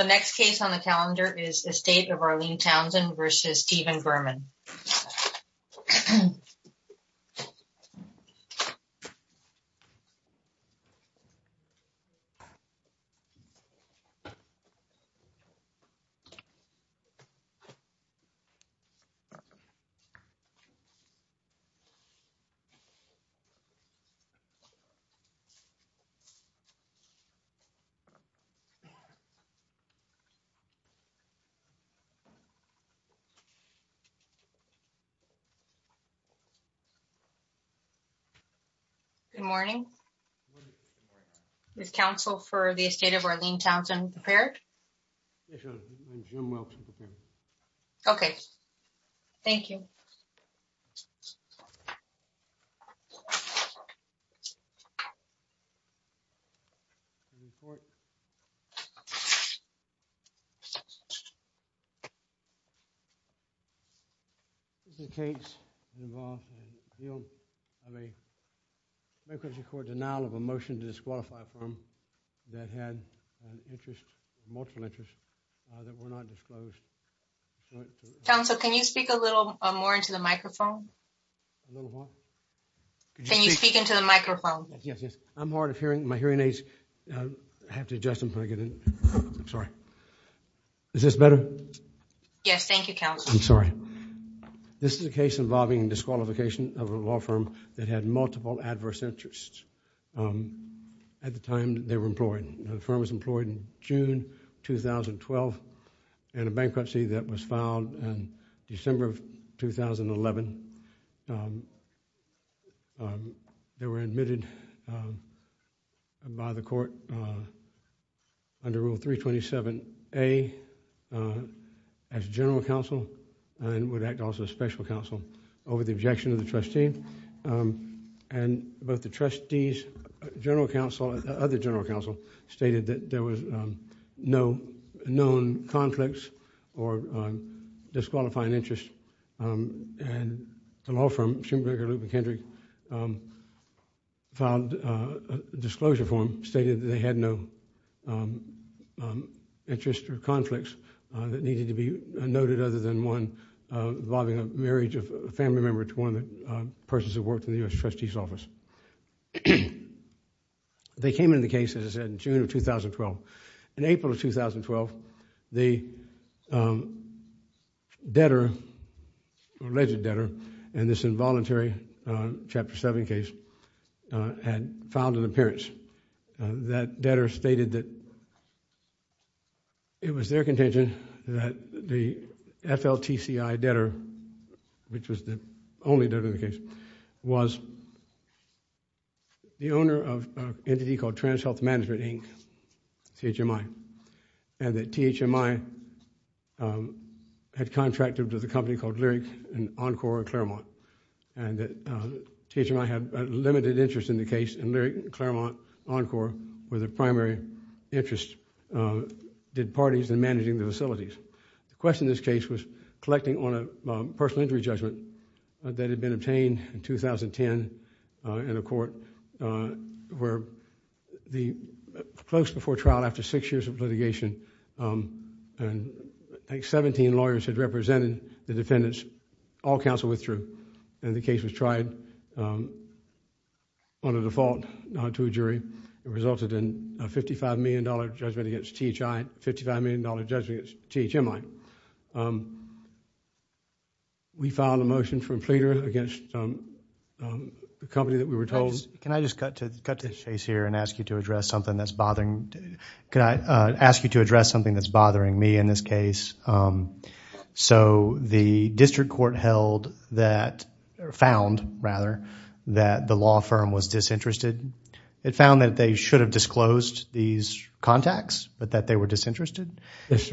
The next case on the calendar is Estate of Arlene Townsend versus Steven Berman. Good morning. Is Council for the State of Arlene Townsend prepared? Okay. Thank you. This is a case involving the appeal of a bankruptcy court denial of a motion to disqualify a firm that had an interest, multiple interest, that were not disclosed. Council, can you speak a little more into the microphone? A little what? Can you speak into the microphone? Yes, yes. I'm hard of hearing. My hearing aids, I have to adjust them before I get in. I'm sorry. Is this better? Yes, thank you, Council. I'm sorry. This is a case involving disqualification of a law firm that had multiple adverse interests at the time they were employed. The firm was employed in June 2012 in a bankruptcy that was filed in December of 2011. They were admitted by the court under Rule 327A as general counsel and would act also as special counsel over the objection of the trustee. Both the trustees, general counsel and other general counsel stated that there was no known conflicts or disqualifying interest, and the law firm, Schoenberger, Luke McKendrick, filed a disclosure form stating that they had no interest or conflicts that needed to be noted other than one involving a marriage of a family member to one of the persons who worked in the U.S. trustee's office. They came into the case, as I said, in June of 2012. In April of 2012, the debtor, alleged debtor, in this involuntary Chapter 7 case had filed an appearance. That debtor stated that it was their contention that the FLTCI debtor, which was the only debtor in the case, was the owner of an entity called Trans Health Management Inc., THMI, and that THMI had contracted with a company called Lyric Encore Claremont, and that THMI had a limited interest in the case, and Lyric Claremont Encore was the primary interest, did parties in managing the facilities. The question in this case was collecting on a personal injury judgment that had been obtained in 2010 in a court where close before trial, after six years of litigation, and I think seventeen lawyers had represented the defendants, all counsel withdrew, and the case was tried on a default to a jury. It resulted in a $55 million judgment against THMI. We filed a motion for a pleader against the company that we were told. Can I just cut to the chase here and ask you to address something that's bothering me in this case? So the district court found that the law firm was disinterested. It found that they should have disclosed these contacts, but that they were disinterested,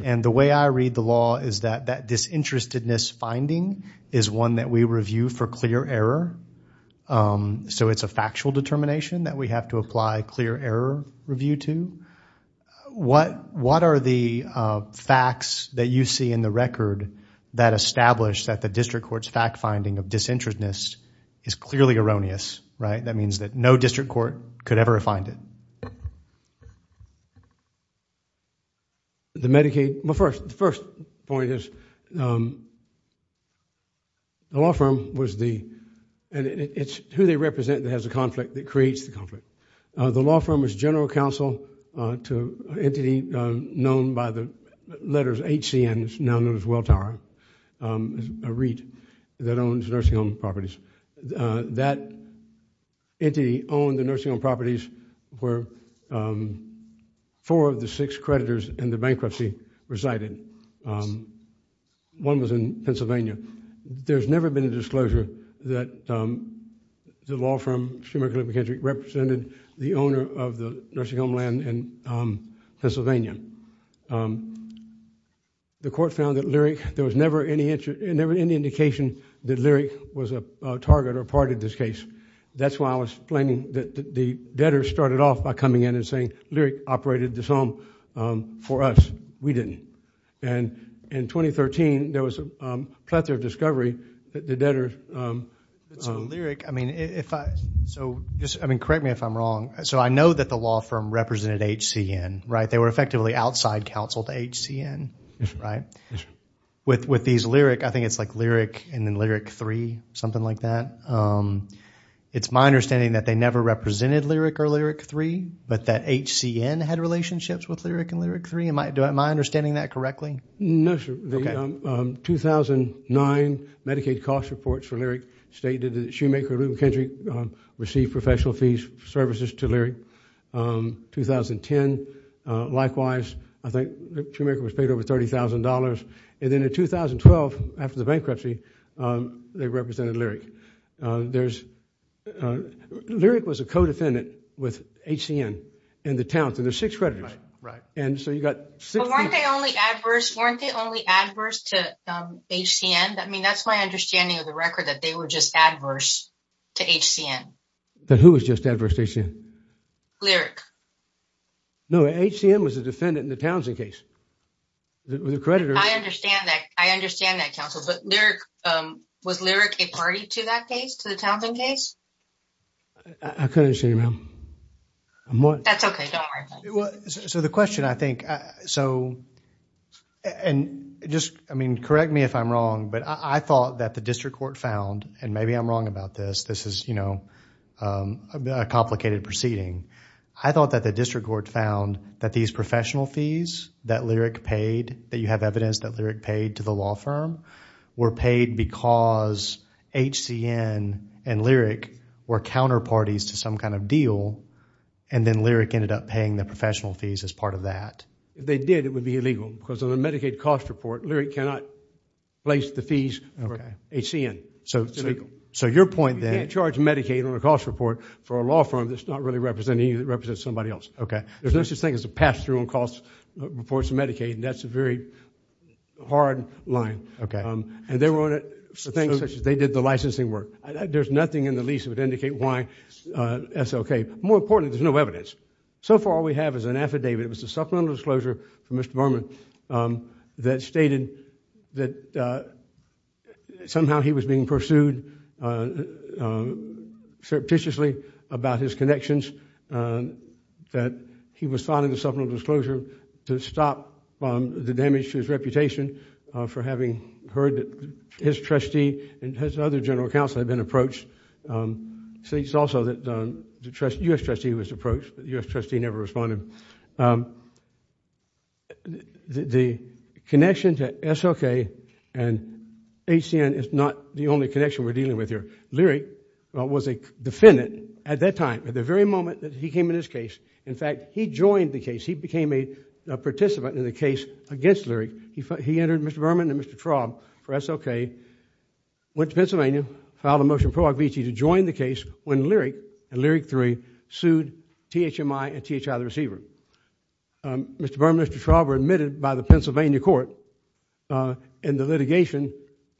and the way I read the law is that that disinterestedness finding is one that we review for clear error, so it's a factual determination that we have to apply clear error review to. What are the facts that you see in the record that establish that the district court's fact finding of disinterestedness is clearly erroneous, right? That means that no district court could ever find it. The Medicaid, well first, the first point is the law firm was the, and it's who they represent that has a conflict that creates the conflict. The law firm was general counsel to an entity known by the letters HCN, it's now known as Welltower, a REIT that owns nursing home properties. That entity owned the nursing home properties where four of the six creditors in the bankruptcy resided. One was in Pennsylvania. There's never been a disclosure that the law firm, Schumer & Kilpatrick, represented the owner of the and there was never any indication that Lyric was a target or part of this case. That's why I was claiming that the debtors started off by coming in and saying Lyric operated this home for us. We didn't, and in 2013 there was a plethora of discovery that the debtors. So Lyric, I mean if I, so just, I mean correct me if I'm wrong, so I know that the law firm represented HCN, right? They were effectively outside counsel to HCN, right? With these Lyric, I think it's like Lyric and then Lyric 3, something like that. It's my understanding that they never represented Lyric or Lyric 3, but that HCN had relationships with Lyric and Lyric 3. Am I understanding that correctly? No, sir. The 2009 Medicaid cost reports for Lyric stated that Schumer & Kilpatrick received professional fees for services to Lyric. 2010, likewise, I think Schumer & Kilpatrick was paid over $30,000 and then in 2012, after the bankruptcy, they represented Lyric. There's, Lyric was a co-defendant with HCN in the town, so there's six creditors. Right, right. And so you got- So weren't they only adverse, weren't they only adverse to HCN? I mean that's my understanding of the record that they were just adverse to HCN. Then who was just adverse to HCN? Lyric. No, HCN was a defendant in the Townsend case. The creditor- I understand that. I understand that, counsel, but Lyric, um, was Lyric a party to that case, to the Townsend case? I couldn't understand, ma'am. That's okay, don't worry about it. Well, so the question, I think, so and just, I mean, correct me if I'm wrong, but I thought that the district court found, and maybe I'm wrong about this, this is, you know, a complicated proceeding. I thought that the district court found that these professional fees that Lyric paid, that you have evidence that Lyric paid to the law firm, were paid because HCN and Lyric were counterparties to some kind of deal and then Lyric ended up paying the professional fees as part of that. If they did, it would be illegal because on the Medicaid cost report, Lyric cannot place the fees for HCN. So it's illegal. So your point then- You can't charge Medicaid on a cost report for a law firm that's not really representing you, that represents somebody else. Okay. There's no such thing as a pass-through on cost reports to Medicaid and that's a very hard line. Okay. And they were on it for things such as they did the licensing work. There's nothing in the lease that would indicate why that's okay. More importantly, there's no evidence. So far, we have as an affidavit, it was a supplemental disclosure from Mr. Berman that stated that somehow he was being pursued surreptitiously about his connections, that he was filing a supplemental disclosure to stop the damage to his reputation for having heard that his trustee and his other general counsel had been approached. It states also that the U.S. trustee was approached, but the U.S. trustee never responded. The connection to SLK and HCN is not the only connection we're dealing with here. Lyric was a defendant at that time, at the very moment that he came in this case. In fact, he joined the case. He became a participant in the case against Lyric. He entered Mr. Berman and Mr. Traub for SLK, went to Pennsylvania, filed a motion to join the case when Lyric and Lyric III sued THMI and THI the receiver. Mr. Berman and Mr. Traub were admitted by the Pennsylvania court in the litigation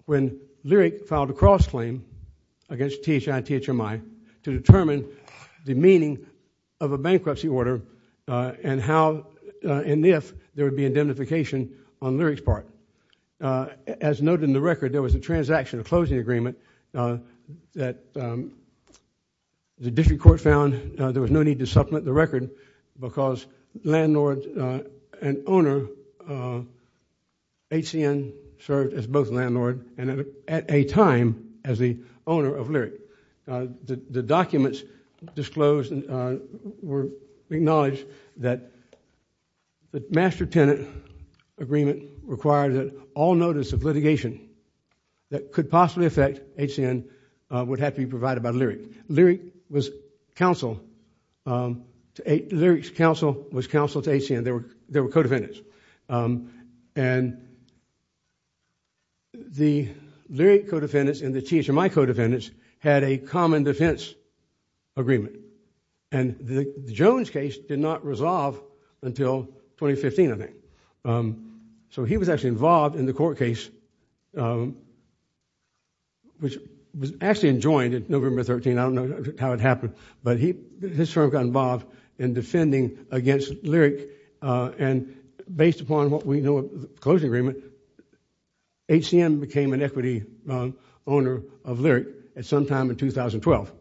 when Lyric filed a cross-claim against THI and THMI to determine the meaning of a bankruptcy order and if there would be indemnification on Lyric's part. As noted in the record, there was a transaction, a closing agreement that the district court found there was no need to supplement the record because landlord and owner of HCN served as both landlord and at a time as the owner of Lyric. The documents disclosed were acknowledged that the master tenant agreement required that all notice of litigation that could possibly affect HCN would have to be provided by Lyric. Lyric's counsel was counseled to HCN. They were co-defendants. The Lyric co-defendants and the THMI co-defendants had a common defense agreement and the Jones case did not resolve until 2015, I think. So he was actually involved in the court case, which was actually enjoined in November 13. I don't know how it happened, but he, his firm got involved in defending against Lyric and based upon what we know of the closing agreement, HCN became an equity owner of Lyric at some time in 2012.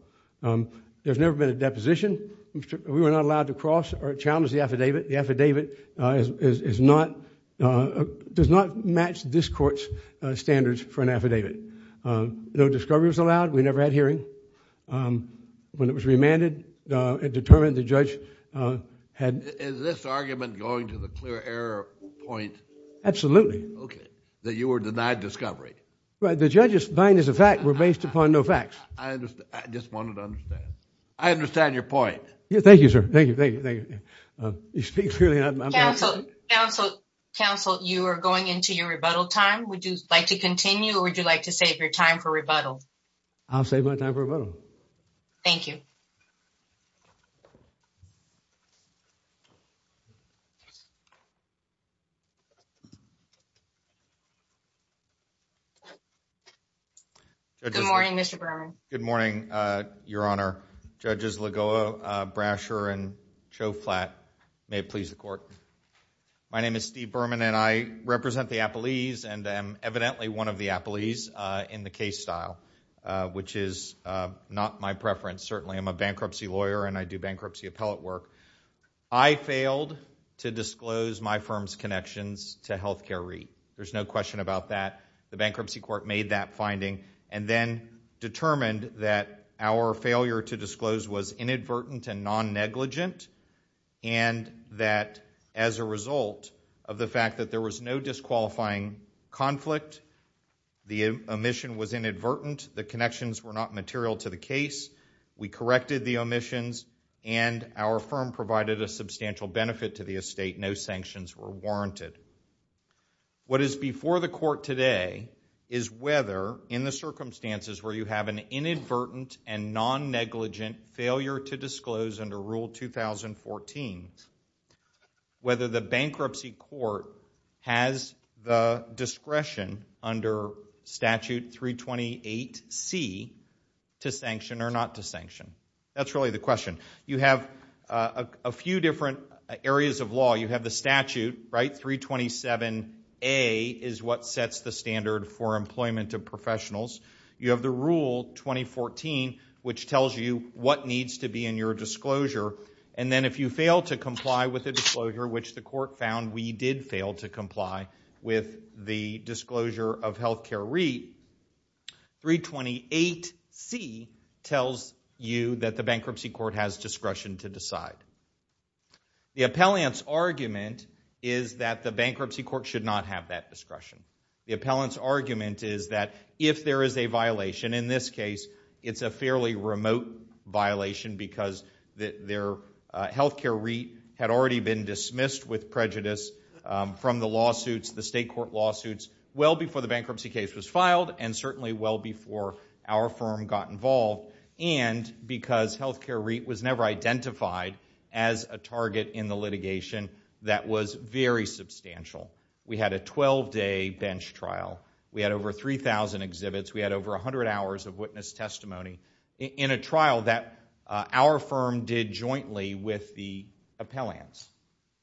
There's never been a deposition. We were not allowed to cross or challenge the affidavit. The affidavit is not, does not match this court's standards for an affidavit. No discovery was allowed. We never had hearing. When it was remanded, it determined the judge Is this argument going to the clear error point? Absolutely. Okay. That you were denied discovery. Right. The judge's mind is a fact. We're based upon no facts. I understand. I just wanted to understand. I understand your point. Yeah. Thank you, sir. Thank you. Thank you. Thank you. You speak clearly. Counsel, you are going into your rebuttal time. Would you like to continue or would you like to save your time for rebuttal? I'll save my time for rebuttal. Thank you. Thank you. Good morning, Mr. Berman. Good morning, Your Honor. Judges Lagoa, Brasher, and Chauflat, may it please the court. My name is Steve Berman and I represent the Appalese and I'm evidently one of the Appalese in the case style, which is not my preference. Certainly I'm a bankruptcy lawyer and I do I failed to disclose my firm's connections to healthcare REIT. There's no question about that. The bankruptcy court made that finding and then determined that our failure to disclose was inadvertent and non-negligent and that as a result of the fact that there was no disqualifying conflict, the omission was inadvertent, the connections were not material to the case, we corrected the omissions, and our firm provided a substantial benefit to the estate. No sanctions were warranted. What is before the court today is whether in the circumstances where you have an inadvertent and non-negligent failure to disclose under Rule 2014, whether the bankruptcy That's really the question. You have a few different areas of law. You have the statute, right? 327A is what sets the standard for employment of professionals. You have the Rule 2014, which tells you what needs to be in your disclosure. And then if you fail to comply with the disclosure, which the court found we did fail to comply with the disclosure of healthcare REIT, 328C tells you that the bankruptcy court has discretion to decide. The appellant's argument is that the bankruptcy court should not have that discretion. The appellant's argument is that if there is a violation, in this case, it's a fairly remote violation because their healthcare REIT had already been dismissed with prejudice from the lawsuits, the state court lawsuits, well before the bankruptcy case was filed and certainly well before our firm got involved and because healthcare REIT was never identified as a target in the litigation that was very substantial. We had a 12-day bench trial. We had over 3,000 exhibits. We had over 100 hours of witness testimony in a trial that our firm did jointly with the appellants.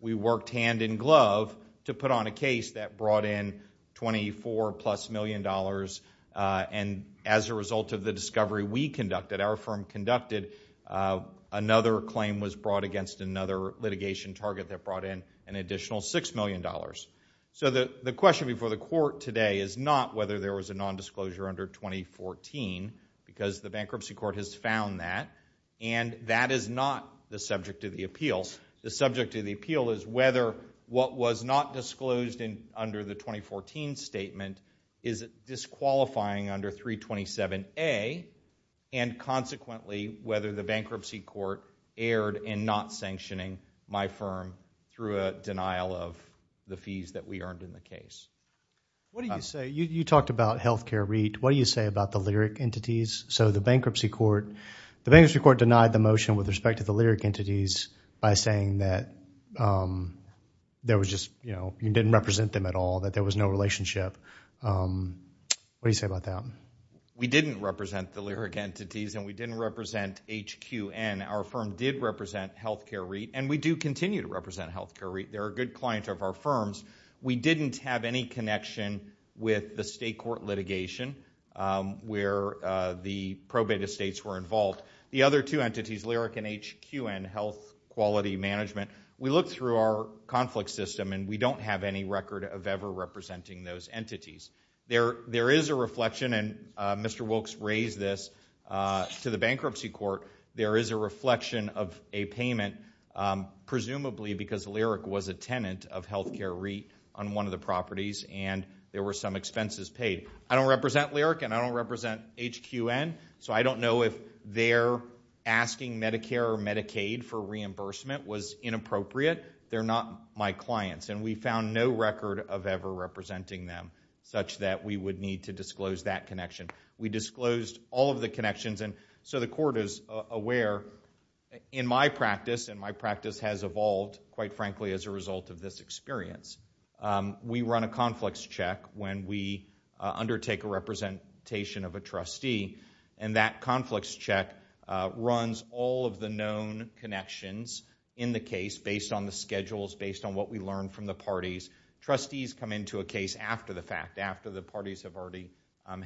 We worked hand in glove to put on a case that brought in 24-plus million dollars. And as a result of the discovery we conducted, our firm conducted, another claim was brought against another litigation target that brought in an additional $6 million. So the question before the court today is not whether there was a nondisclosure under 2014 because the bankruptcy court has found that. And that is not the subject of the appeals. The subject of the appeal is whether what was not disclosed under the 2014 statement is disqualifying under 327A and consequently whether the bankruptcy court erred in not sanctioning my firm through a denial of the fees that we earned in the case. What do you say, you talked about healthcare REIT, what do you say about the lyric entities? So the bankruptcy court, the bankruptcy court denied the motion with respect to the lyric entities by saying that there was just, you know, you didn't represent them at all, that there was no relationship. What do you say about that? We didn't represent the lyric entities and we didn't represent HQN. Our firm did represent healthcare REIT and we do continue to represent healthcare REIT. They're a good client of our litigation where the probate estates were involved. The other two entities, lyric and HQN, health quality management, we looked through our conflict system and we don't have any record of ever representing those entities. There is a reflection and Mr. Wilkes raised this to the bankruptcy court, there is a reflection of a payment presumably because lyric was a tenant of healthcare REIT on one of the properties and there were some expenses paid. I don't know represent lyric and I don't represent HQN so I don't know if their asking Medicare or Medicaid for reimbursement was inappropriate. They're not my clients and we found no record of ever representing them such that we would need to disclose that connection. We disclosed all of the connections and so the court is aware in my practice and my practice has evolved quite frankly as a result of this experience. We run a conflicts check when we undertake a representation of a trustee and that conflicts check runs all of the known connections in the case based on the schedules, based on what we learn from the parties. Trustees come into a case after the fact, after the parties have already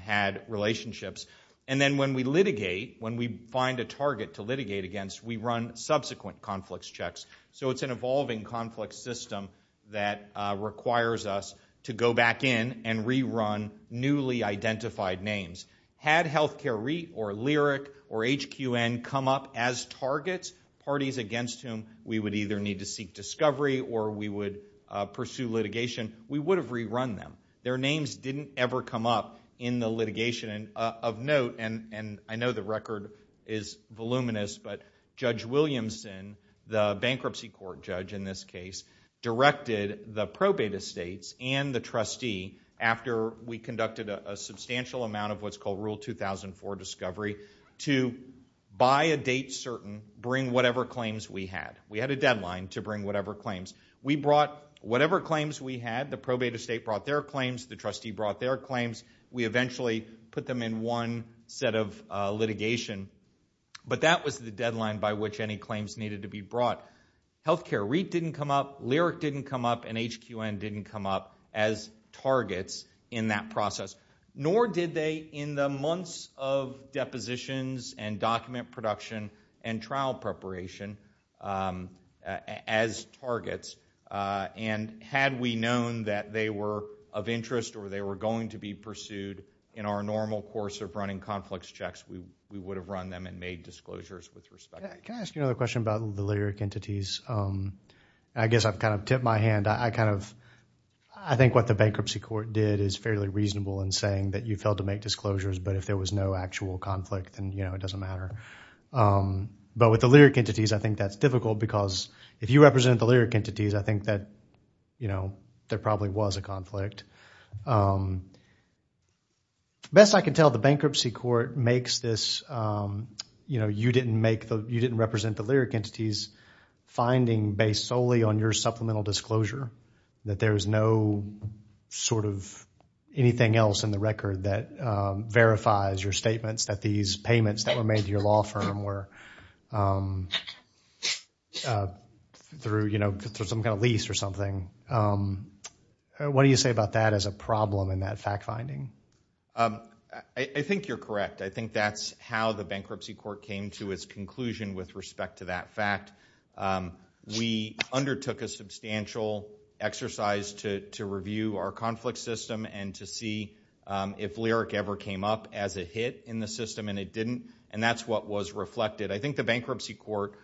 had relationships and then when we litigate, when we find a target to litigate against, we run subsequent conflicts checks. So it's an evolving conflict system that requires us to go back in and rerun newly identified names. Had healthcare REIT or Lyric or HQN come up as targets, parties against whom we would either need to seek discovery or we would pursue litigation, we would have rerun them. Their names didn't ever come up in the litigation and of note and I know the record is voluminous but Judge Williamson, the bankruptcy court judge in this case, directed the probate estates and the trustee after we conducted a substantial amount of what's called Rule 2004 discovery to by a date certain bring whatever claims we had. We had a deadline to bring whatever claims we brought. Whatever claims we had, the probate estate brought their claims, we eventually put them in one set of litigation. But that was the deadline by which any claims needed to be brought. Healthcare REIT didn't come up, Lyric didn't come up and HQN didn't come up as targets in that process. Nor did they in the months of depositions and document production and trial preparation as targets. And had we known that they were of interest or they were going to be pursued in our normal course of running conflicts checks, we would have run them and made disclosures with respect. Can I ask you another question about the Lyric entities? I guess I've kind of tipped my hand. I kind of, I think what the bankruptcy court did is fairly reasonable in saying that you failed to make disclosures but if there was no actual conflict and you know, it doesn't matter. But with the Lyric entities, I think that's difficult because if you represent the Lyric entities, I think that you know, there probably was a conflict. Best I can tell, the bankruptcy court makes this, you know, you didn't make the, you didn't represent the Lyric entities finding based solely on your supplemental disclosure that there is no sort of anything else in the record that verifies your statements that these payments that were made to your law firm were through, you know, through some kind of lease or something. What do you say about that as a problem in that fact finding? I think you're correct. I think that's how the bankruptcy court came to its conclusion with respect to that fact. We undertook a substantial exercise to review our conflict system and to see if Lyric ever came up as a hit in the system and it didn't. And that's what was reflected. I think the bankruptcy court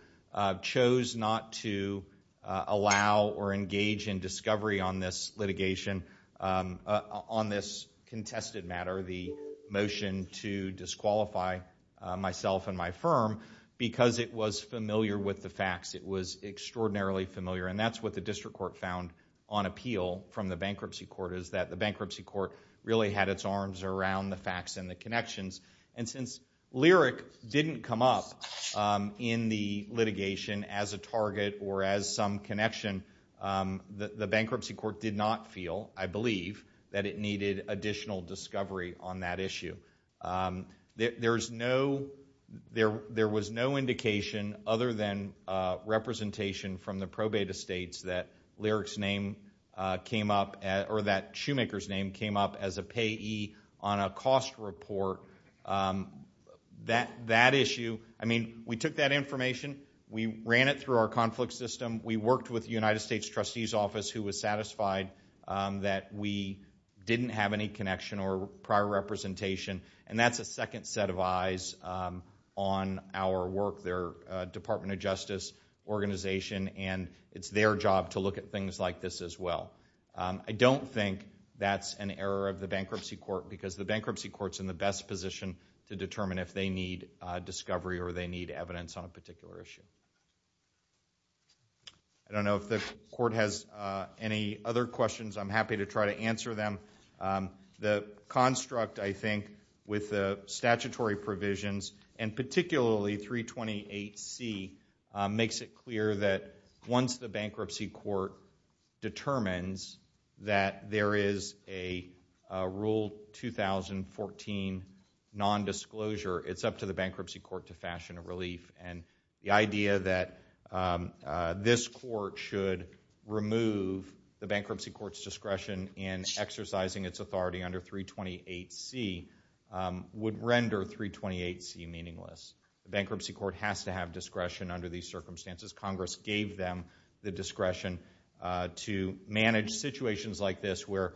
chose not to allow or engage in discovery on this litigation, on this contested matter, the motion to disqualify myself and my firm because it was familiar with the facts. It was extraordinarily familiar and that's what the district court found on appeal from the bankruptcy court is that the bankruptcy court really had its arms around the issue. It didn't come up in the litigation as a target or as some connection. The bankruptcy court did not feel, I believe, that it needed additional discovery on that issue. There was no indication other than representation from the probate estates that Lyric's name came up or that I mean, we took that information, we ran it through our conflict system, we worked with the United States trustee's office who was satisfied that we didn't have any connection or prior representation and that's a second set of eyes on our work, their department of justice organization and it's their job to look at things like this as well. I don't think that's an error of the bankruptcy court because the bankruptcy court's in the best position to determine if they need discovery or they need evidence on a particular issue. I don't know if the court has any other questions. I'm happy to try to answer them. The construct, I think, with the statutory provisions and particularly 328C makes it clear that once the bankruptcy court determines that there is a rule 2014 non-disclosure, it's up to the bankruptcy court to fashion a relief and the idea that this court should remove the bankruptcy court's discretion in exercising its authority under 328C would render 328C meaningless. The bankruptcy court has to have discretion under these circumstances. Congress gave them the discretion to manage situations like this where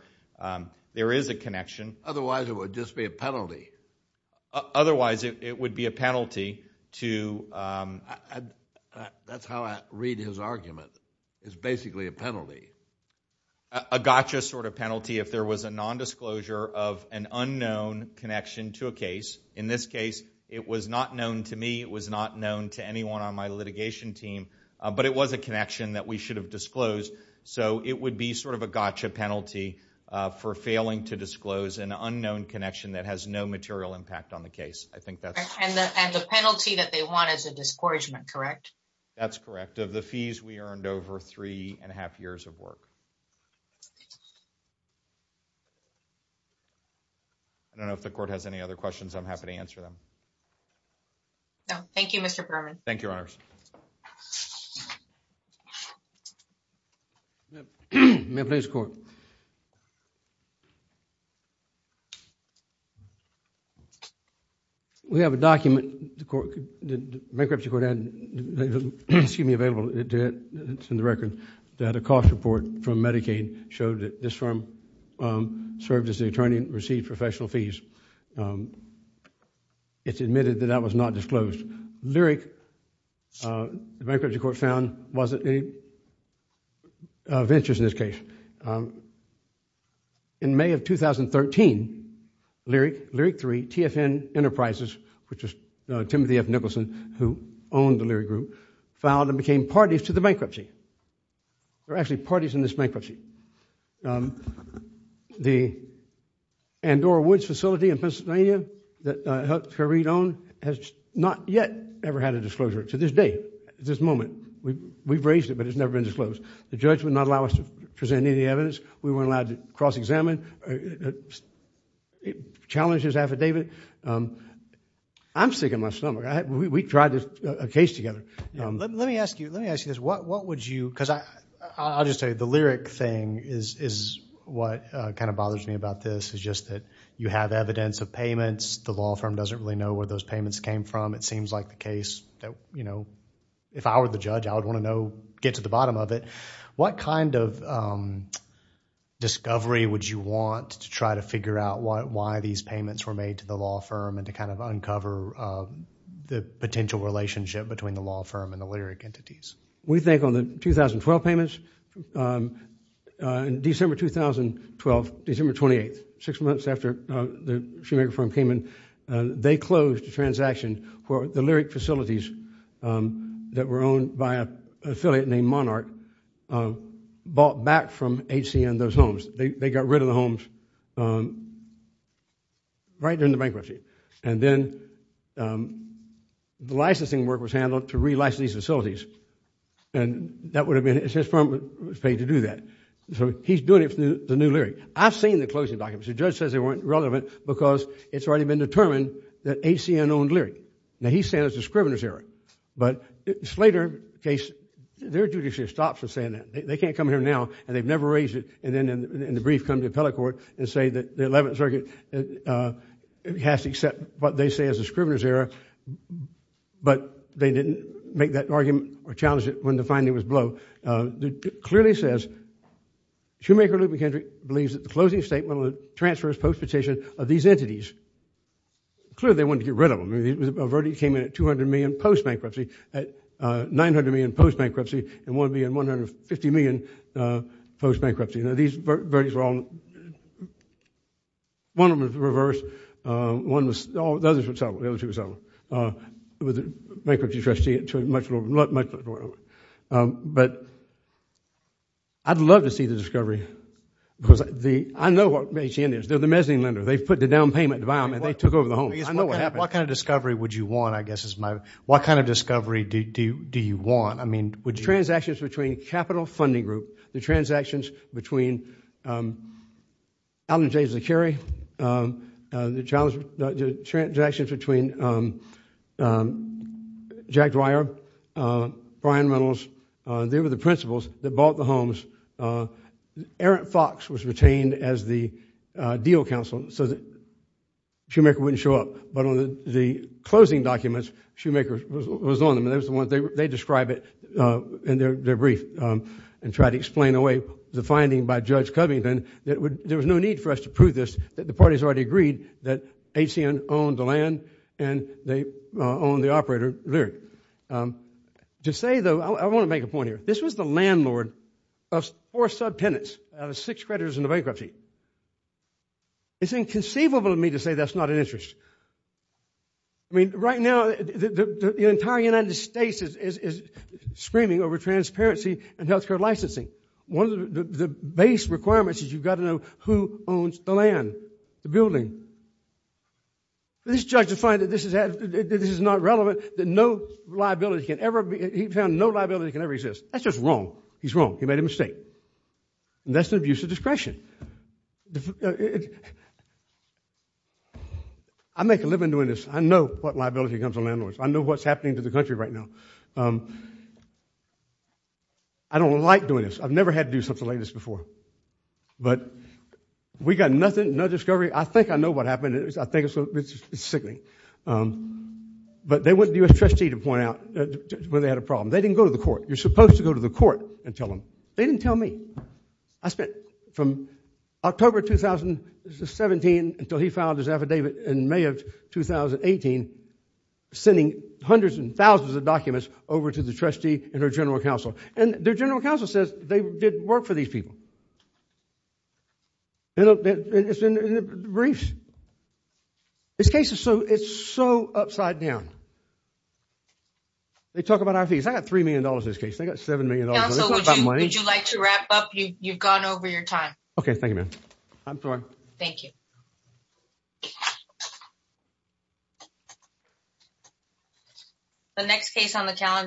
there is a connection. Otherwise, it would just be a penalty. Otherwise, it would be a penalty to That's how I read his argument. It's basically a penalty. A gotcha penalty if there was a non-disclosure of an unknown connection to a case. In this case, it was not known to me. It was not known to anyone on my litigation team, but it was a connection that we should have disclosed. It would be a gotcha penalty for failing to disclose an unknown connection that has no material impact on the case. And the penalty that they want is a discouragement, correct? That's correct. Of the fees, we earned over three and a half years of work. I don't know if the court has any other questions. I'm happy to answer them. No. Thank you, Mr. Berman. Thank you, Your Honors. May I please, Court? We have a document, the bankruptcy court had available, it's in the record, that a cost report from Medicaid showed that this firm served as the attorney and received professional fees. It's admitted that that was not disclosed. Lyric, the bankruptcy court found, wasn't any of interest in this case. In May of 2013, Lyric, Lyric 3, TFN Enterprises, which was Timothy F. Nicholson, who owned the Lyric Group, filed and became parties to the bankruptcy. They're actually parties in this bankruptcy. The Andorra Woods facility in Pennsylvania that helped to read on has not yet ever had a disclosure. To this day, at this moment, we've raised it, but it's never been disclosed. The judge would not allow us to present any evidence. We weren't allowed to cross-examine, challenge his affidavit. I'm sick in my stomach. We tried a case together. Let me ask you this. I'll just tell you, the Lyric thing is what kind of bothers me about this. It's just that you have evidence of payments. The law firm doesn't really know where those payments came from. It seems like the case that, if I were the judge, I would want to know, get to the bottom of it. What kind of discovery would you want to try to figure out why these the Lyric entities? We think on the 2012 payments, in December 2012, December 28th, six months after the Shoemaker firm came in, they closed the transaction where the Lyric facilities that were owned by an affiliate named Monarch bought back from HCN those homes. They got rid of the homes right during the bankruptcy. Then the licensing work was handled to relicense these facilities. It's his firm that was paid to do that. He's doing it for the new Lyric. I've seen the closing documents. The judge says they weren't relevant because it's already been determined that HCN owned Lyric. Now, he's saying it's a scrivener's error, but the Slater case, their judiciary stops us saying that. They can't come here now, and they've never raised it, and the brief come to appellate court and say that the 11th Circuit has to accept what they say is a scrivener's error, but they didn't make that argument or challenge it when the finding was blowed. It clearly says Shoemaker, Luke McKendrick believes that the closing statement on the transfers post-petition of these entities, clearly they wanted to get rid of them. I mean, a verdict came in at $200 million post-bankruptcy, at $900 million post-bankruptcy, and one being $150 million post-bankruptcy. Now, these verdicts were all, one of them was reversed, the other two were settled with the bankruptcy trustee. But I'd love to see the discovery because I know what HCN is. They're the mezzanine lender. They put the down payment to buy them, and they took over the home. I know what happened. What kind of discovery would you want, I guess is my, what kind of discovery do you want? I mean, transactions between Capital Funding Group, the transactions between Alan J. Zakari, the transactions between Jack Dwyer, Brian Reynolds, they were the principals that bought the homes. Aaron Fox was retained as the deal counsel so that Shoemaker wouldn't show up, but on the closing documents, Shoemaker was on them, and they were the ones, they describe it in their brief and try to explain away the finding by Judge Covington that there was no need for us to prove this, that the parties already agreed that HCN owned the land and they owned the operator Lyric. To say, though, I want to make a point here. This was the landlord of four subtenants out of six creditors in the bankruptcy. It's inconceivable to me to say that's not an interest. I mean, right now, the entire United States is screaming over transparency and health care licensing. One of the base requirements is you've got to know who owns the land, the building. This judge has found that this is not relevant, that no liability can ever be, he found no liability can ever exist. That's just wrong. He's wrong. He made a mistake. And that's an excuse. I make a living doing this. I know what liability comes to landlords. I know what's happening to the country right now. I don't like doing this. I've never had to do something like this before. But we got nothing, no discovery. I think I know what happened. I think it's sickening. But they went to the U.S. trustee to point out when they had a problem. They didn't go to the court. You're supposed to go to the court and tell them. They didn't tell me. I spent from October 2017 until he filed his affidavit in May of 2018, sending hundreds and thousands of documents over to the trustee and her general counsel. And their general counsel says they did work for these people. It's in the briefs. This case is so, it's so upside down. They talk about our fees. I got $3 million in this case. They got $7 million. Would you like to wrap up? You've gone over your time. Okay. Thank you, ma'am. Thank you. The next case on the calendar.